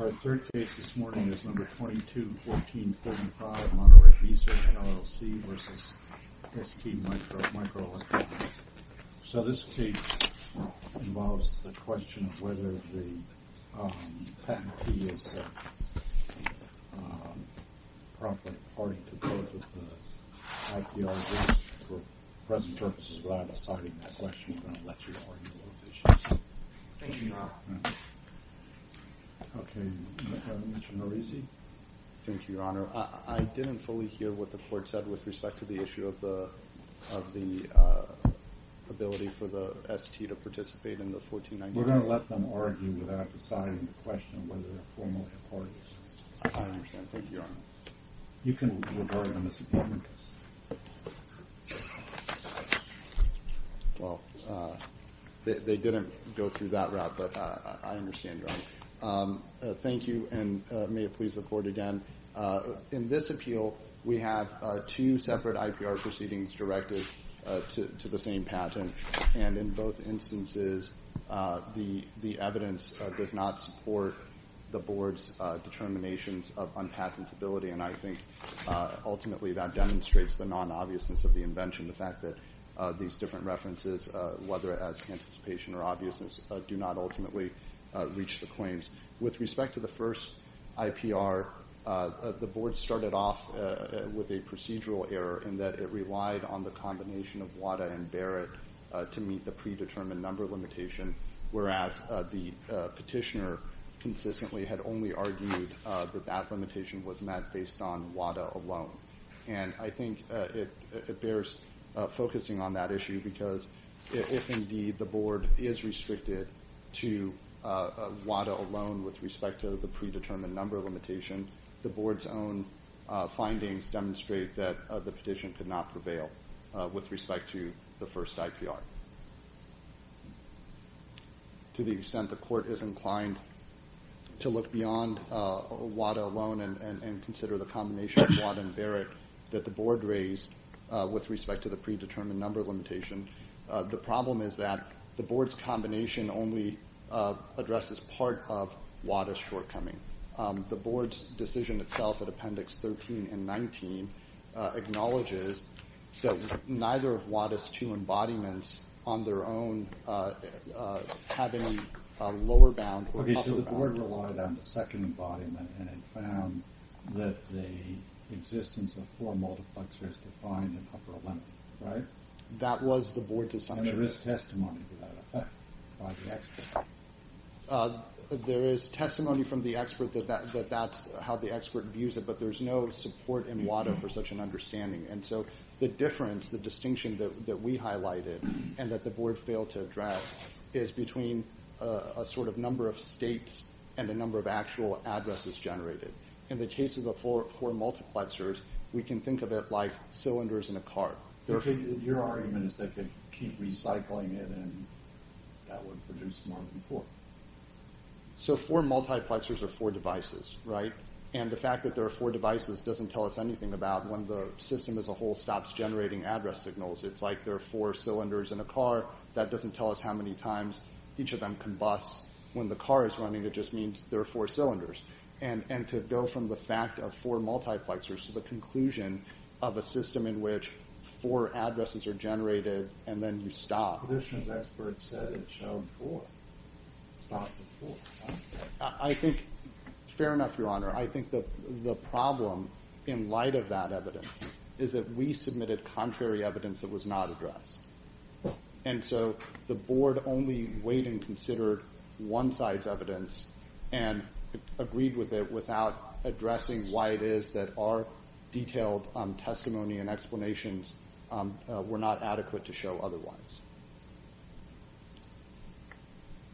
Our third case this morning is No. 22-14-45, Monterey Research, LLC v. STMicroelectronics. So this case involves the question of whether the patent fee is appropriate according to both of the IPRs. For present purposes, without asserting that question, we're going to let you argue those issues. Thank you, Your Honor. Okay. Mr. Norisi? Thank you, Your Honor. I didn't fully hear what the court said with respect to the issue of the ability for the ST to participate in the 1499. We're going to let them argue without deciding the question of whether they're formally appropriate. I understand. Thank you, Your Honor. You can revert on this appointment. Well, they didn't go through that route, but I understand, Your Honor. Thank you, and may it please the Court again. In this appeal, we have two separate IPR proceedings directed to the same patent, and in both instances, the evidence does not support the Board's determinations of unpatentability, and I think ultimately that demonstrates the non-obviousness of the invention, the fact that these different references, whether as anticipation or obviousness, do not ultimately reach the claims. With respect to the first IPR, the Board started off with a procedural error in that it relied on the combination of WADA and Barrett to meet the predetermined number limitation, whereas the petitioner consistently had only argued that that limitation was met based on WADA alone, and I think it bears focusing on that issue because if indeed the Board is restricted to WADA alone with respect to the predetermined number limitation, the Board's own findings demonstrate that the petition could not prevail with respect to the first IPR. To the extent the Court is inclined to look beyond WADA alone and consider the combination of WADA and Barrett that the Board raised with respect to the predetermined number limitation, the problem is that the Board's combination only addresses part of WADA's shortcoming. The Board's decision itself at Appendix 13 and 19 acknowledges that neither of WADA's two embodiments on their own have any lower bound or upper bound. Okay, so the Board relied on the second embodiment and it found that the existence of four multiplexers defined an upper limit, right? That was the Board's assumption. And there is testimony to that effect by the expert? There is testimony from the expert that that's how the expert views it, but there's no support in WADA for such an understanding. And so the difference, the distinction that we highlighted and that the Board failed to address is between a sort of number of states and the number of actual addresses generated. In the case of the four multiplexers, we can think of it like cylinders in a car. Your argument is they could keep recycling it and that would produce more than four. So four multiplexers are four devices, right? And the fact that there are four devices doesn't tell us anything about when the system as a whole stops generating address signals. It's like there are four cylinders in a car. That doesn't tell us how many times each of them combusts. When the car is running, it just means there are four cylinders. And to go from the fact of four multiplexers to the conclusion of a system in which four addresses are generated and then you stop. But this one's expert said it showed four. It stopped at four. Fair enough, Your Honor. I think the problem in light of that evidence is that we submitted contrary evidence that was not addressed. And so the Board only weighed and considered one-size evidence and agreed with it without addressing why it is that our detailed testimony and explanations were not adequate to show otherwise.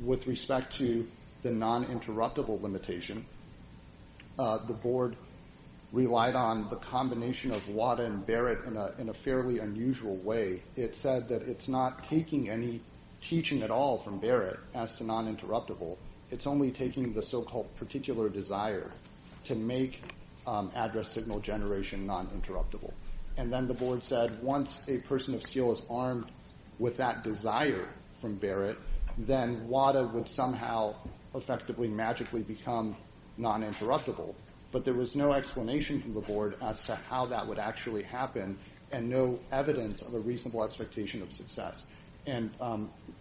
With respect to the non-interruptible limitation, the Board relied on the combination of WADA and Barrett in a fairly unusual way. It said that it's not taking any teaching at all from Barrett as to non-interruptible. It's only taking the so-called particular desire to make address signal generation non-interruptible. And then the Board said once a person of skill is armed with that desire from Barrett, then WADA would somehow effectively magically become non-interruptible. But there was no explanation from the Board as to how that would actually happen And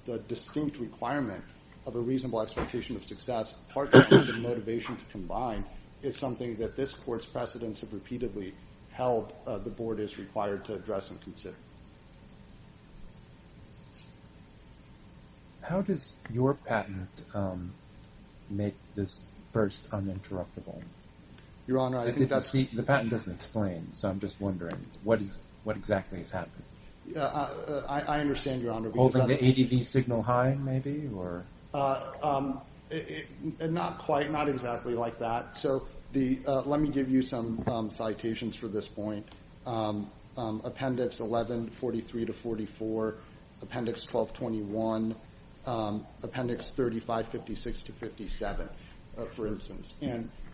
the distinct requirement of a reasonable expectation of success, partly because of the motivation to combine, is something that this Court's precedents have repeatedly held the Board is required to address and consider. How does your patent make this first uninterruptible? Your Honor, I think that's... The patent doesn't explain, so I'm just wondering what exactly has happened. I understand, Your Honor. Holding the ADV signal high, maybe? Not quite, not exactly like that. So let me give you some citations for this point. Appendix 1143-44, Appendix 1221, Appendix 3556-57, for instance.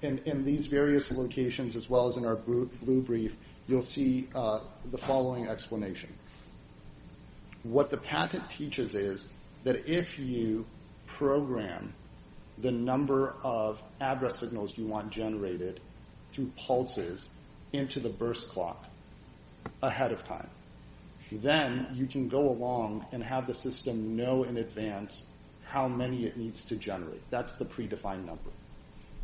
In these various locations, as well as in our blue brief, you'll see the following explanation. What the patent teaches is that if you program the number of address signals you want generated through pulses into the burst clock ahead of time, then you can go along and have the system know in advance how many it needs to generate. That's the predefined number.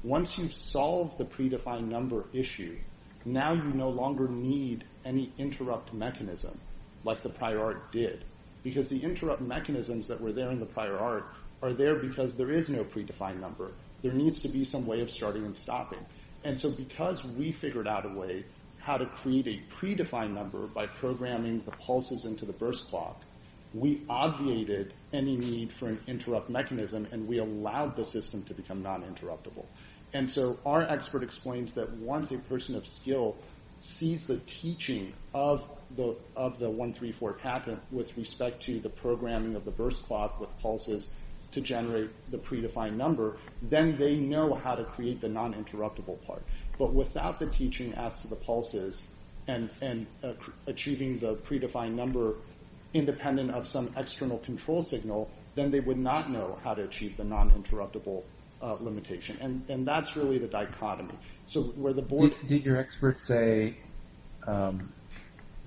Once you've solved the predefined number issue, now you no longer need any interrupt mechanism like the prior art did. Because the interrupt mechanisms that were there in the prior art are there because there is no predefined number. There needs to be some way of starting and stopping. And so because we figured out a way how to create a predefined number by programming the pulses into the burst clock, we obviated any need for an interrupt mechanism and we allowed the system to become non-interruptible. And so our expert explains that once a person of skill sees the teaching of the 134 patent with respect to the programming of the burst clock with pulses to generate the predefined number, then they know how to create the non-interruptible part. But without the teaching as to the pulses and achieving the predefined number independent of some external control signal, then they would not know how to achieve the non-interruptible limitation. And that's really the dichotomy. So where the board... Did your expert say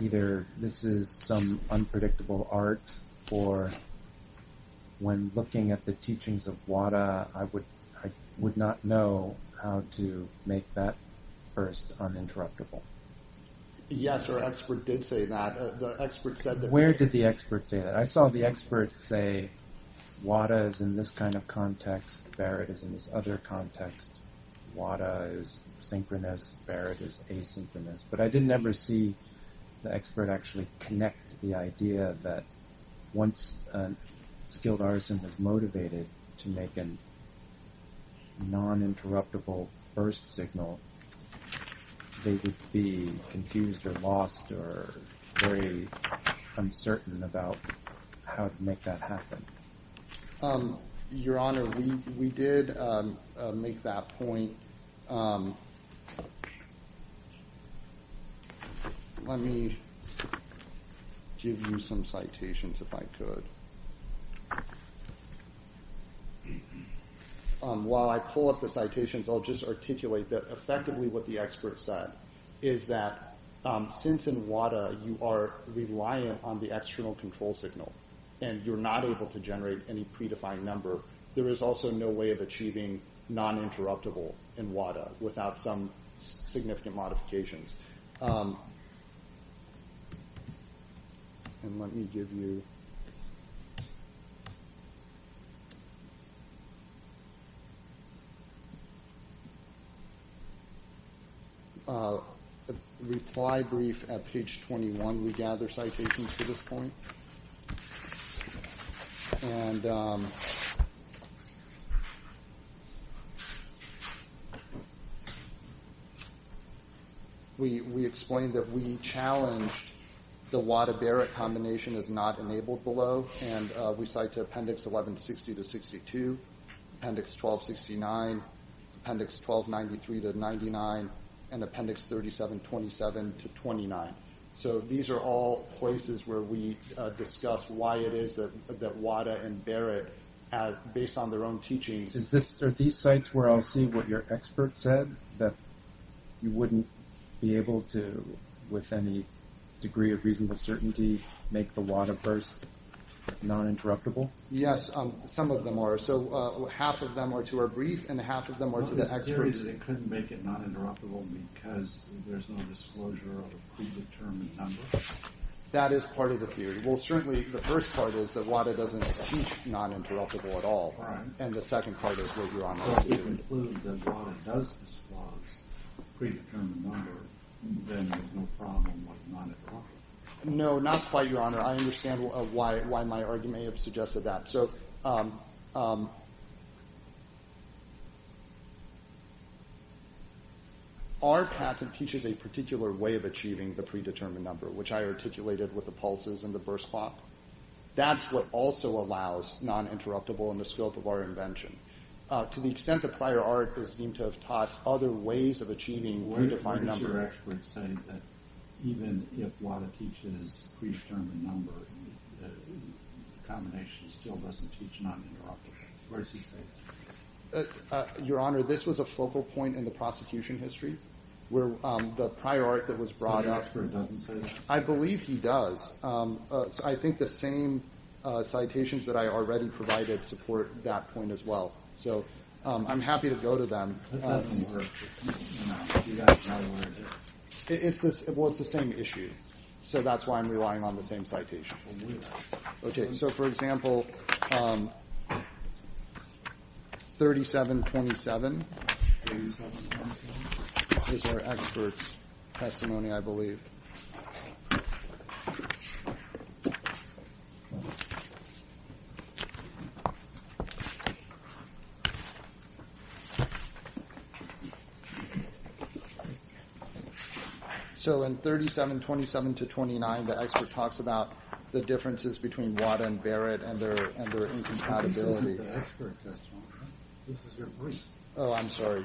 either this is some unpredictable art or when looking at the teachings of Wada, I would not know how to make that burst uninterruptible? Yes, our expert did say that. Where did the expert say that? I saw the expert say Wada is in this kind of context. Barrett is in this other context. Wada is synchronous. Barrett is asynchronous. But I did never see the expert actually connect the idea that once a skilled artisan was motivated to make a non-interruptible burst signal, they would be confused or lost or very uncertain about how to make that happen. Your Honor, we did make that point. Let me give you some citations if I could. While I pull up the citations, I'll just articulate that effectively what the expert said is that since in Wada, you are reliant on the external control signal and you're not able to generate any predefined number, there is also no way of achieving non-interruptible in Wada without some significant modifications. Let me give you a reply brief at page 21. We gather citations for this point. We explained that we challenged the Wada-Barrett combination as not enabled below, and we cite Appendix 1160-62, Appendix 1269, Appendix 1293-99, and Appendix 3727-29. These are all places where we discussed why it is that Wada and Barrett, based on their own teachings— Are these sites where I'll see what your expert said? That you wouldn't be able to, with any degree of reasonable certainty, make the Wada burst non-interruptible? Yes, some of them are. Half of them are to our brief and half of them are to the expert. So the theory is that it couldn't make it non-interruptible because there's no disclosure of a predetermined number? That is part of the theory. Well, certainly the first part is that Wada doesn't achieve non-interruptible at all, and the second part is what you're on about. So to conclude that Wada does disclose a predetermined number, then there's no problem with non-interruptible? No, not quite, Your Honor. I understand why my argument may have suggested that. So our patent teaches a particular way of achieving the predetermined number, which I articulated with the pulses and the burst clock. That's what also allows non-interruptible in the scope of our invention. To the extent that prior artists seem to have taught other ways of achieving a predetermined number— the combination still doesn't teach non-interruptible. Where does he stay? Your Honor, this was a focal point in the prosecution history where the prior art that was brought up— So the expert doesn't say that? I believe he does. I think the same citations that I already provided support that point as well. So I'm happy to go to them. That doesn't work. You guys are not aware of it. Well, it's the same issue, so that's why I'm relying on the same citation. Okay, so for example, 3727 is our expert's testimony, I believe. So in 3727-29, the expert talks about the differences between WADA and Barrett and their incompatibility. This isn't the expert testimony. This is your brief. Oh, I'm sorry.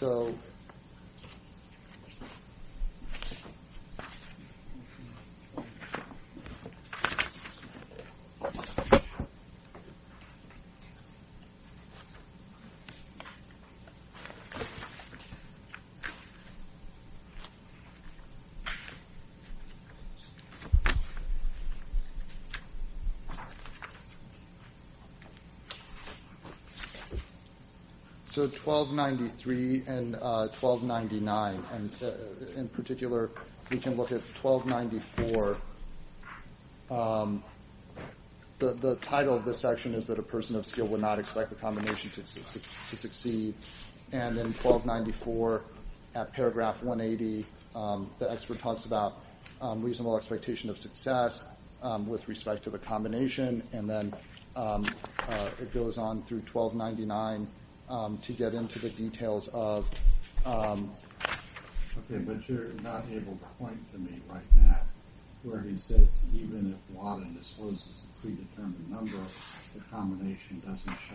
So 1293 and 1299. In particular, we can look at 1294. The title of this section is that a person of skill would not expect the combination to succeed. And then 1294 at paragraph 180, the expert talks about reasonable expectation of success with respect to the combination. And then it goes on through 1299 to get into the details of— Okay, but you're not able to point to me right now where he says even if WADA disposes of a predetermined number, the combination doesn't show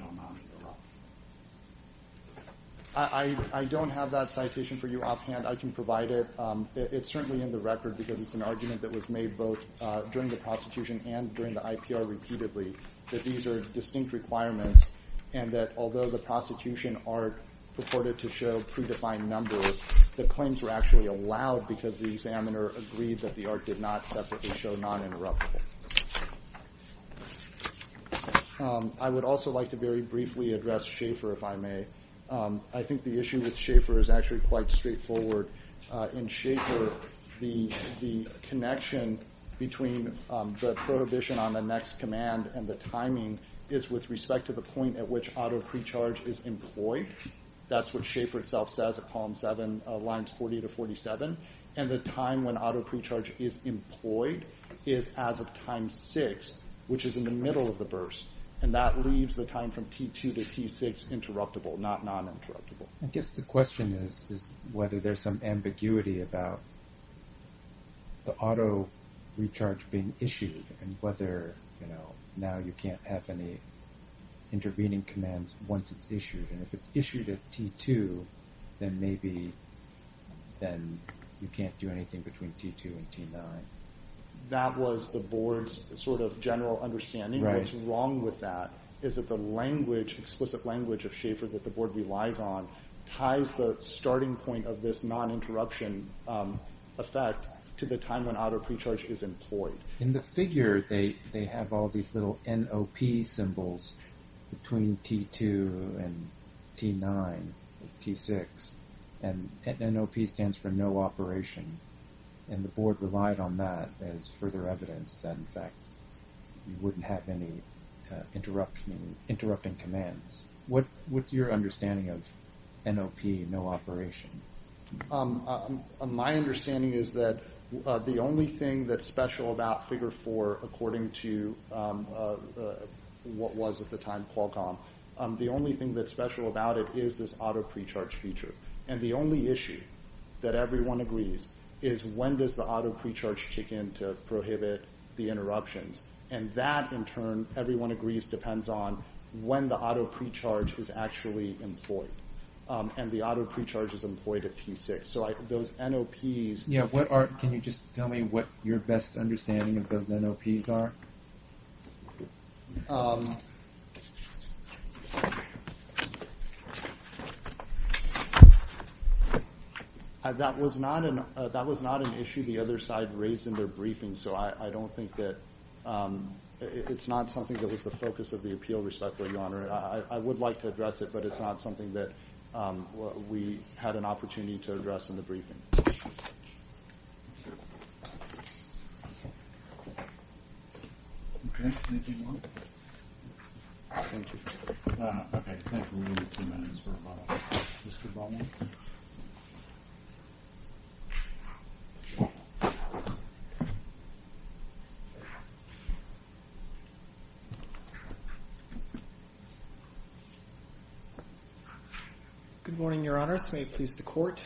non-interruptible. I don't have that citation for you offhand. I can provide it. It's certainly in the record because it's an argument that was made both during the prosecution and during the IPR repeatedly, that these are distinct requirements and that although the prosecution arc purported to show predefined numbers, the claims were actually allowed because the examiner agreed that the arc did not separately show non-interruptible. I would also like to very briefly address Schaefer, if I may. I think the issue with Schaefer is actually quite straightforward. In Schaefer, the connection between the prohibition on the next command and the timing is with respect to the point at which auto-precharge is employed. That's what Schaefer itself says at column 7, lines 40 to 47. And the time when auto-precharge is employed is as of time 6, which is in the middle of the burst. And that leaves the time from T2 to T6 interruptible, not non-interruptible. I guess the question is whether there's some ambiguity about the auto-recharge being issued and whether now you can't have any intervening commands once it's issued. And if it's issued at T2, then maybe you can't do anything between T2 and T9. That was the board's sort of general understanding. What's wrong with that is that the explicit language of Schaefer that the board relies on ties the starting point of this non-interruption effect to the time when auto-precharge is employed. In the figure, they have all these little NOP symbols between T2 and T9, T6. And NOP stands for no operation. And the board relied on that as further evidence that, in fact, you wouldn't have any interrupting commands. What's your understanding of NOP, no operation? My understanding is that the only thing that's special about figure four, according to what was at the time Qualcomm, the only thing that's special about it is this auto-precharge feature. And the only issue that everyone agrees is when does the auto-precharge kick in to prohibit the interruptions. And that, in turn, everyone agrees depends on when the auto-precharge is actually employed. And the auto-precharge is employed at T6. So those NOPs – Yeah, what are – can you just tell me what your best understanding of those NOPs are? That was not an issue the other side raised in their briefing, so I don't think that – it's not something that was the focus of the appeal, respectfully, Your Honor. I would like to address it, but it's not something that we had an opportunity to address in the briefing. Okay. Thank you, Norm. Thank you. Okay. Thank you. We need a few minutes for a follow-up. Mr. Bowman? Good morning, Your Honors. May it please the Court?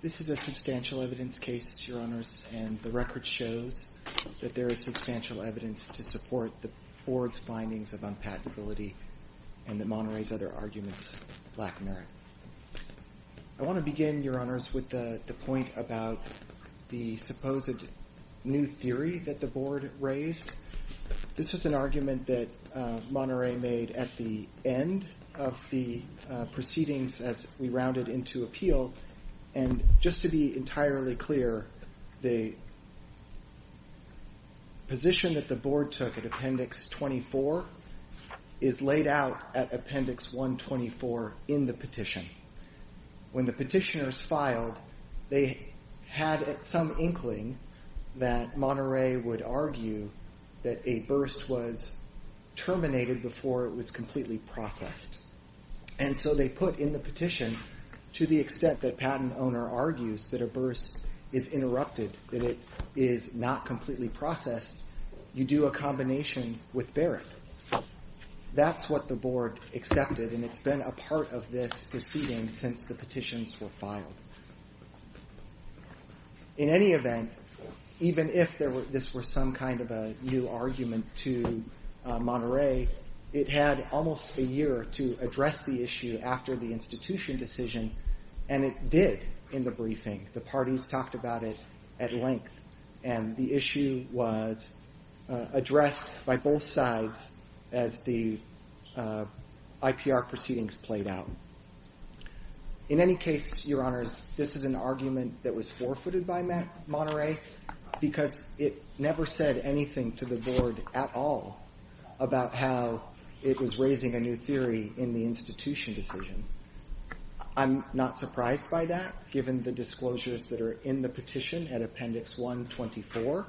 This is a substantial evidence case, Your Honors, and the record shows that there is substantial evidence to support the Board's findings of unpatentability and that Monterey's other arguments lack merit. I want to begin, Your Honors, with the point about the supposed new theory that the Board raised. This is an argument that Monterey made at the end of the proceedings as we rounded into appeal, and just to be entirely clear, the position that the Board took at Appendix 24 is laid out at Appendix 124 in the petition. When the petitioners filed, they had some inkling that Monterey would argue that a burst was terminated before it was completely processed. And so they put in the petition, to the extent that Patent Owner argues that a burst is interrupted, that it is not completely processed, you do a combination with Barrett. That's what the Board accepted, and it's been a part of this proceeding since the petitions were filed. In any event, even if this were some kind of a new argument to Monterey, it had almost a year to address the issue after the institution decision, and it did in the briefing. The parties talked about it at length, and the issue was addressed by both sides as the IPR proceedings played out. In any case, Your Honors, this is an argument that was forfeited by Monterey because it never said anything to the Board at all about how it was raising a new theory in the institution decision. I'm not surprised by that, given the disclosures that are in the petition at Appendix 124,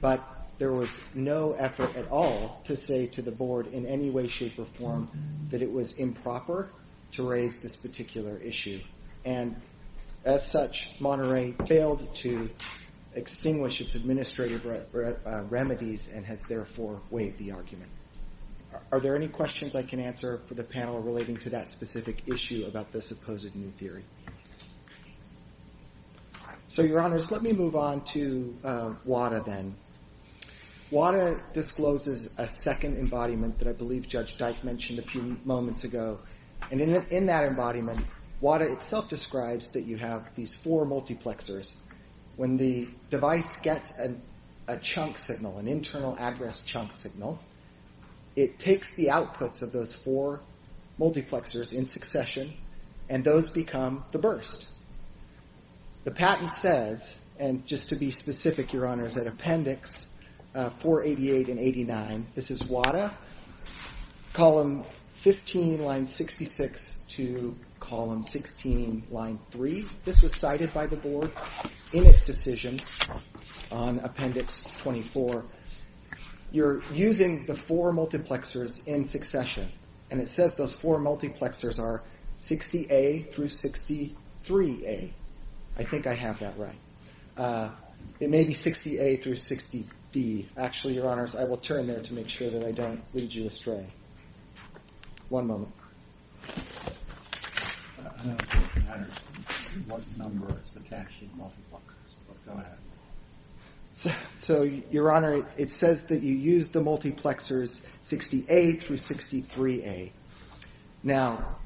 but there was no effort at all to say to the Board in any way, shape, or form that it was improper to raise this particular issue. And as such, Monterey failed to extinguish its administrative remedies and has therefore waived the argument. Are there any questions I can answer for the panel relating to that specific issue about the supposed new theory? So, Your Honors, let me move on to WADA then. WADA discloses a second embodiment that I believe Judge Dyke mentioned a few moments ago, and in that embodiment, WADA itself describes that you have these four multiplexers. When the device gets a chunk signal, an internal address chunk signal, it takes the outputs of those four multiplexers in succession, and those become the burst. The patent says, and just to be specific, Your Honors, at Appendix 488 and 89, this is WADA, column 15, line 66 to column 16, line 3. This was cited by the Board in its decision on Appendix 24. You're using the four multiplexers in succession, and it says those four multiplexers are 60A through 63A. I think I have that right. It may be 60A through 60D. Actually, Your Honors, I will turn there to make sure that I don't lead you astray. One moment. Go ahead. So, Your Honor, it says that you use the multiplexers 60A through 63A. Now,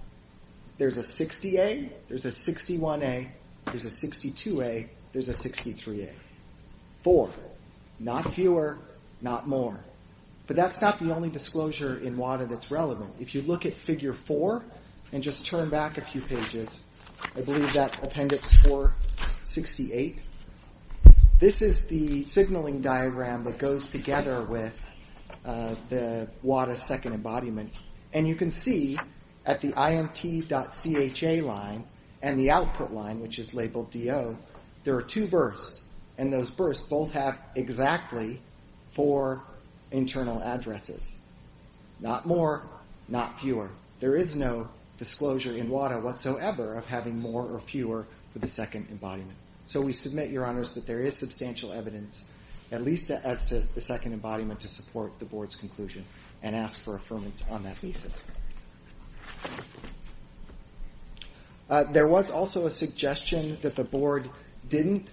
there's a 60A, there's a 61A, there's a 62A, there's a 63A. Four. Not fewer, not more. But that's not the only disclosure in WADA that's relevant. If you look at Figure 4 and just turn back a few pages, I believe that's Appendix 468. This is the signaling diagram that goes together with the WADA second embodiment. And you can see at the imt.cha line and the output line, which is labeled DO, there are two bursts, and those bursts both have exactly four internal addresses. Not more, not fewer. There is no disclosure in WADA whatsoever of having more or fewer for the second embodiment. So we submit, Your Honors, that there is substantial evidence, at least as to the second embodiment, to support the Board's conclusion and ask for affirmance on that thesis. There was also a suggestion that the Board didn't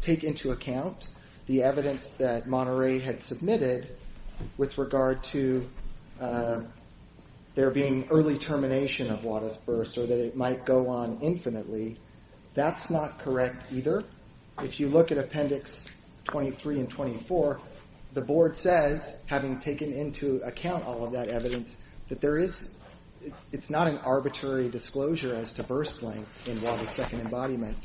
take into account the evidence that Monterey had submitted with regard to there being early termination of WADA's burst or that it might go on infinitely. That's not correct either. If you look at Appendix 23 and 24, the Board says, having taken into account all of that evidence, that it's not an arbitrary disclosure as to burst length in WADA's second embodiment.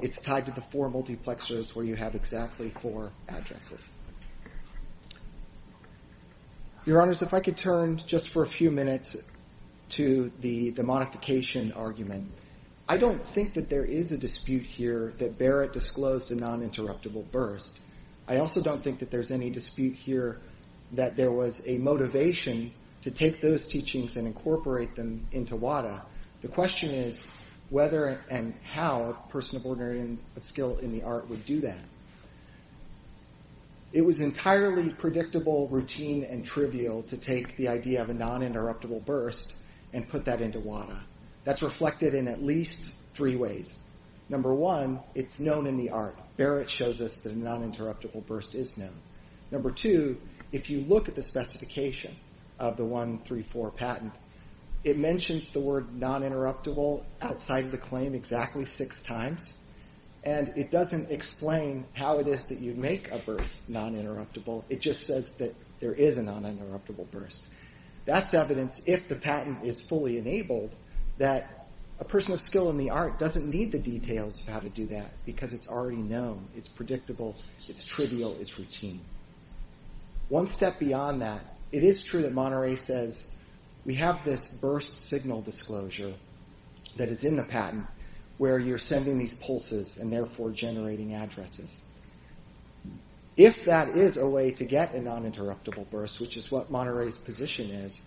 It's tied to the four multiplexers where you have exactly four addresses. Your Honors, if I could turn just for a few minutes to the modification argument. I don't think that there is a dispute here that Barrett disclosed a non-interruptible burst. I also don't think that there's any dispute here that there was a motivation to take those teachings and incorporate them into WADA. The question is whether and how a person of ordinary skill in the art would do that. It was entirely predictable, routine, and trivial to take the idea of a non-interruptible burst and put that into WADA. That's reflected in at least three ways. Number one, it's known in the art. Barrett shows us that a non-interruptible burst is known. Number two, if you look at the specification of the 134 patent, it mentions the word non-interruptible outside of the claim exactly six times, and it doesn't explain how it is that you make a burst non-interruptible. It just says that there is a non-interruptible burst. That's evidence, if the patent is fully enabled, that a person of skill in the art doesn't need the details of how to do that because it's already known. It's predictable. It's trivial. It's routine. One step beyond that, it is true that Monterey says, we have this burst signal disclosure that is in the patent where you're sending these pulses and therefore generating addresses. If that is a way to get a non-interruptible burst, which is what Monterey's position is,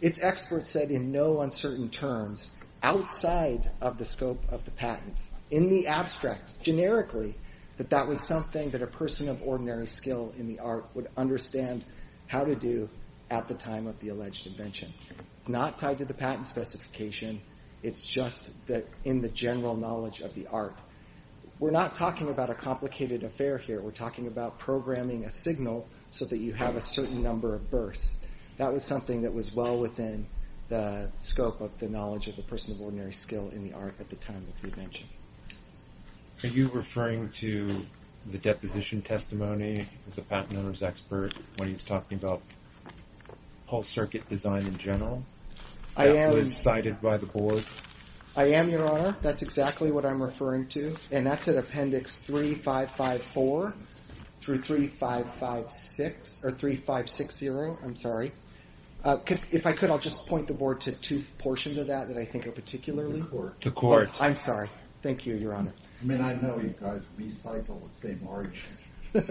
it's expert said in no uncertain terms outside of the scope of the patent, in the abstract, generically, that that was something that a person of ordinary skill in the art would understand how to do at the time of the alleged invention. It's not tied to the patent specification. It's just in the general knowledge of the art. We're not talking about a complicated affair here. We're talking about programming a signal so that you have a certain number of bursts. That was something that was well within the scope of the knowledge of a person of ordinary skill in the art at the time of the invention. Are you referring to the deposition testimony of the patent owner's expert when he's talking about pulse circuit design in general that was cited by the board? I am, Your Honor. That's exactly what I'm referring to, and that's at appendix 3554 through 3560. If I could, I'll just point the board to two portions of that that I think are particularly important. The court. I'm sorry. Thank you, Your Honor. I mean, I know you guys recycle and save margins, but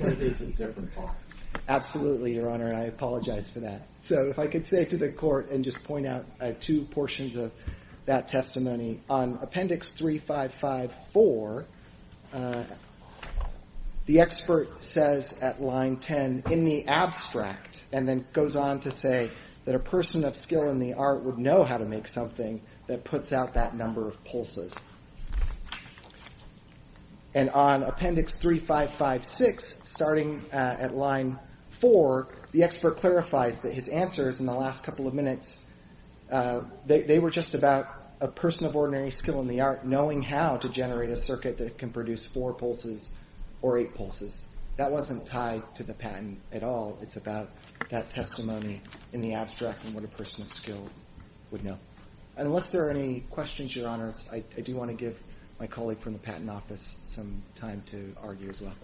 it is a different topic. Absolutely, Your Honor, and I apologize for that. If I could say to the court and just point out two portions of that testimony, on appendix 3554, the expert says at line 10, in the abstract, and then goes on to say that a person of skill in the art would know how to make something that puts out that number of pulses. And on appendix 3556, starting at line 4, the expert clarifies that his answers in the last couple of minutes, they were just about a person of ordinary skill in the art knowing how to generate a circuit that can produce four pulses or eight pulses. That wasn't tied to the patent at all. It's about that testimony in the abstract and what a person of skill would know. Unless there are any questions, Your Honors, I do want to give my colleague from the Patent Office some time to argue as well.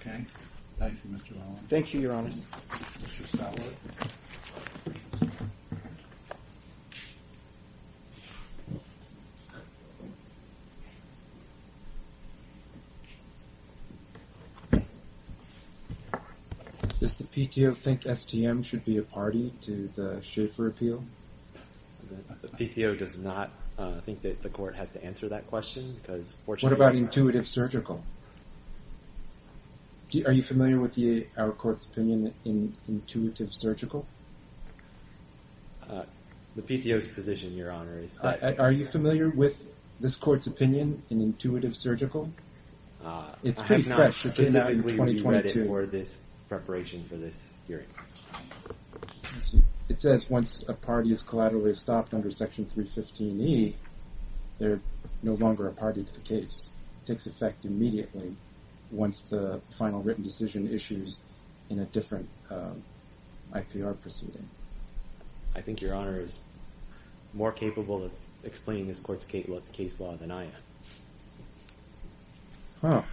Okay. Thank you, Mr. Rollins. Thank you, Your Honors. Mr. Stallworth. Does the PTO think STM should be a party to the Schaefer appeal? The PTO does not think that the court has to answer that question because fortunately… What about intuitive surgical? Are you familiar with our court's opinion in intuitive surgical? The PTO's position, Your Honor, is that… Are you familiar with this court's opinion in intuitive surgical? It's pretty fresh. I have not specifically read it for this preparation for this hearing. It says once a party is collaterally stopped under section 315E, they're no longer a party to the case. It takes effect immediately once the final written decision issues in a different IPR proceeding. I think Your Honor is more capable of explaining this court's case law than I am. Oh.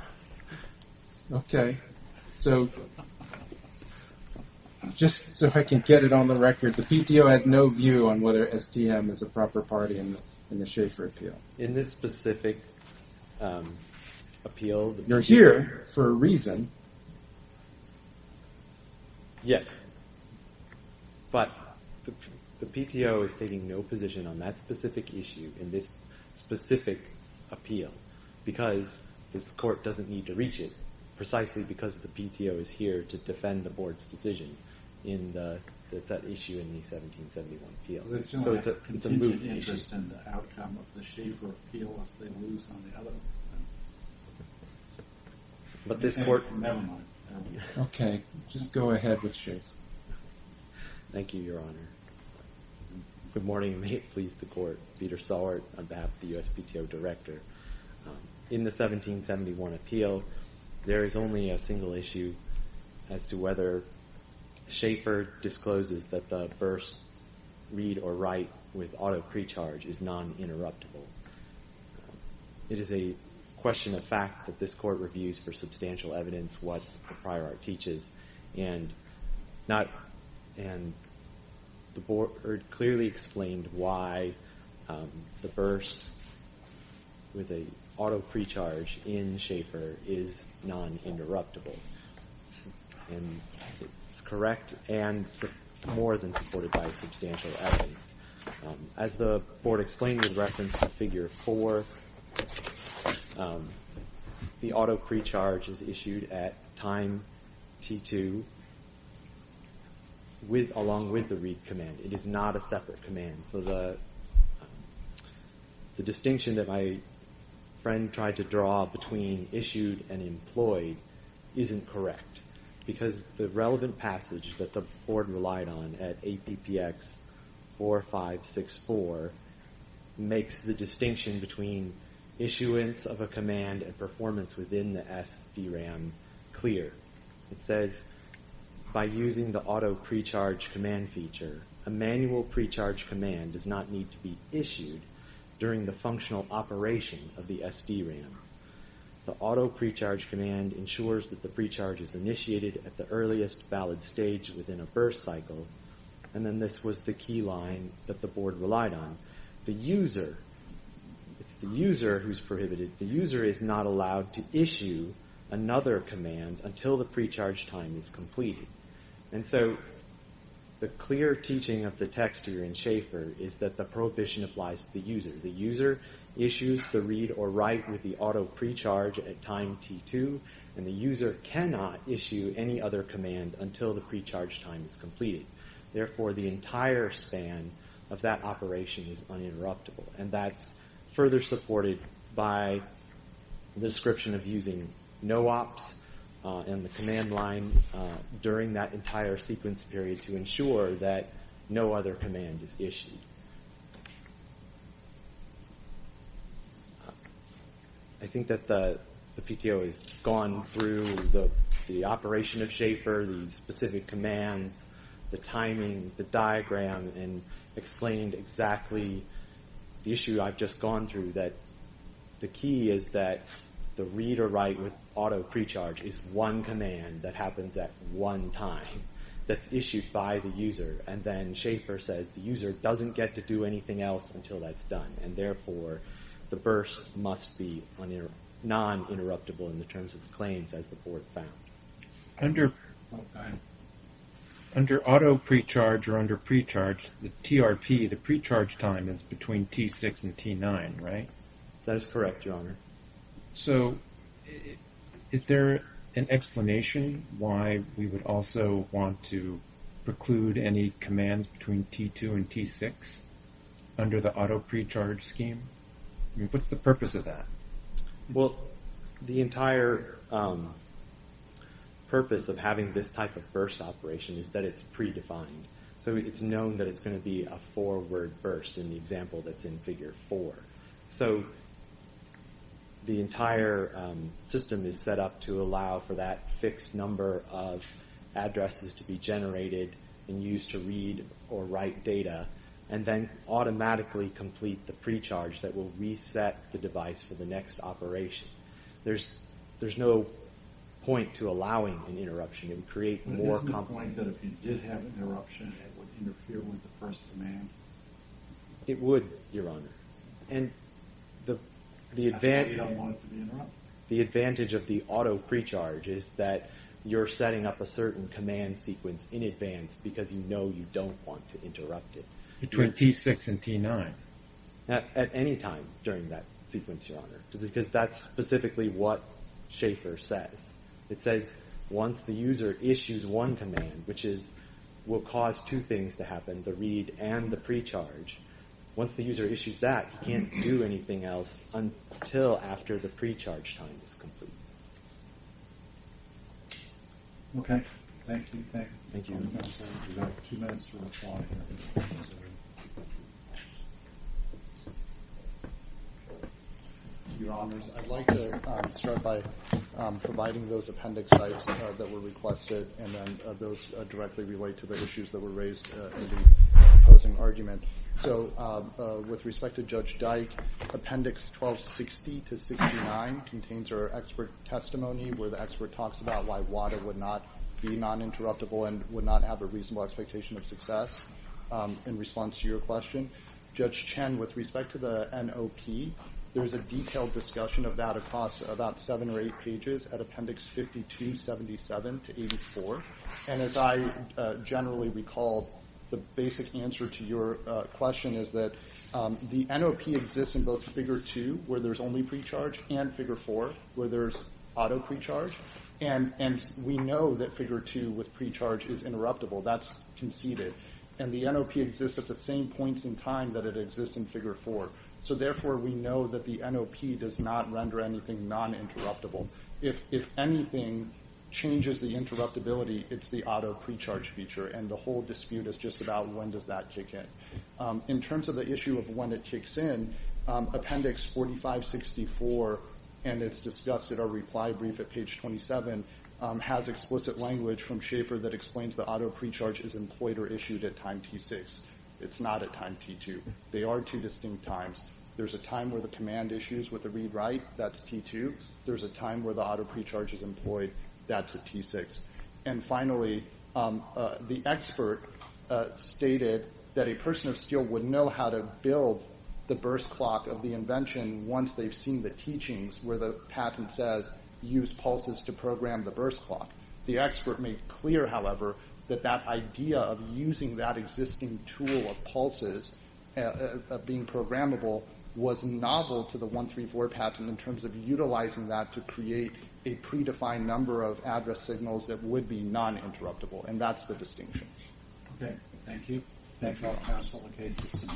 Okay. So just so I can get it on the record, the PTO has no view on whether STM is a proper party in the Schaefer appeal. In this specific appeal… You're here for a reason. Yes. But the PTO is stating no position on that specific issue in this specific appeal because this court doesn't need to reach it precisely because the PTO is here to defend the board's decision in that issue in the 1771 appeal. So it's a moot issue. It's a moot interest in the outcome of the Schaefer appeal if they lose on the other end. But this court… Never mind. Okay. Just go ahead with Schaefer. Thank you, Your Honor. Good morning, and may it please the Court. Peter Sollard on behalf of the USPTO Director. In the 1771 appeal, there is only a single issue as to whether Schaefer discloses that the burst read or write with auto pre-charge is non-interruptible. It is a question of fact that this court reviews for substantial evidence what the prior art teaches, and the board clearly explained why the burst with an auto pre-charge in Schaefer is non-interruptible. It's correct and more than supported by substantial evidence. As the board explained in reference to figure 4, the auto pre-charge is issued at time T2 along with the read command. It is not a separate command. So the distinction that my friend tried to draw between issued and employed isn't correct because the relevant passage that the board relied on at APPX 4564 makes the distinction between issuance of a command and performance within the SDRAM clear. It says, by using the auto pre-charge command feature, a manual pre-charge command does not need to be issued during the functional operation of the SDRAM. The auto pre-charge command ensures that the pre-charge is initiated at the earliest valid stage within a burst cycle. And then this was the key line that the board relied on. It's the user who's prohibited. The user is not allowed to issue another command until the pre-charge time is completed. And so the clear teaching of the text here in Schaefer is that the prohibition applies to the user. The user issues the read or write with the auto pre-charge at time T2, and the user cannot issue any other command until the pre-charge time is completed. Therefore, the entire span of that operation is uninterruptible, and that's further supported by the description of using no-ops and the command line during that entire sequence period to ensure that no other command is issued. I think that the PTO has gone through the operation of Schaefer, the specific commands, the timing, the diagram, and explained exactly the issue I've just gone through, that the key is that the read or write with auto pre-charge is one command that happens at one time that's issued by the user. And then Schaefer says the user doesn't get to do anything else until that's done, and therefore the burst must be non-interruptible in the terms of the claims as the board found. Under auto pre-charge or under pre-charge, the TRP, the pre-charge time is between T6 and T9, right? That is correct, Your Honor. So is there an explanation why we would also want to preclude any commands between T2 and T6 under the auto pre-charge scheme? What's the purpose of that? Well, the entire purpose of having this type of burst operation is that it's pre-defined. So it's known that it's going to be a forward burst in the example that's in Figure 4. So the entire system is set up to allow for that fixed number of addresses to be generated and used to read or write data, and then automatically complete the pre-charge that will reset the device for the next operation. There's no point to allowing an interruption. It would create more complications. But isn't the point that if you did have an interruption, it would interfere with the first command? It would, Your Honor. And the advantage of the auto pre-charge is that you're setting up a certain command sequence in advance because you know you don't want to interrupt it. Between T6 and T9. At any time during that sequence, Your Honor. Because that's specifically what Schaefer says. It says once the user issues one command, which will cause two things to happen, the read and the pre-charge. Once the user issues that, he can't do anything else until after the pre-charge time is complete. Okay. Thank you. Thank you. We have two minutes to respond. Your Honors, I'd like to start by providing those appendix sites that were requested and then those directly relate to the issues that were raised in the opposing argument. So with respect to Judge Dyke, appendix 1260-69 contains our expert testimony where the expert talks about why WADA would not be non-interruptible and would not have a reasonable expectation of success in response to your question. Judge Chen, with respect to the NOP, there's a detailed discussion of that across about seven or eight pages at appendix 5277-84. And as I generally recall, the basic answer to your question is that the NOP exists in both figure 2, where there's only pre-charge, and figure 4, where there's auto pre-charge. And we know that figure 2 with pre-charge is interruptible. That's conceded. And the NOP exists at the same points in time that it exists in figure 4. So therefore, we know that the NOP does not render anything non-interruptible. If anything changes the interruptibility, it's the auto pre-charge feature, and the whole dispute is just about when does that kick in. In terms of the issue of when it kicks in, appendix 4564, and it's discussed at our reply brief at page 27, has explicit language from Schaefer that explains the auto pre-charge is employed or issued at time T6. It's not at time T2. They are two distinct times. There's a time where the command issues with the read-write. That's T2. There's a time where the auto pre-charge is employed. That's at T6. And finally, the expert stated that a person of steel would know how to build the burst clock of the invention once they've seen the teachings where the patent says use pulses to program the burst clock. The expert made clear, however, that that idea of using that existing tool of pulses, of being programmable, was novel to the 134 patent in terms of utilizing that to create a predefined number of address signals that would be non-interruptible, and that's the distinction. Okay. Thank you. Thank you. I'll pass on the case.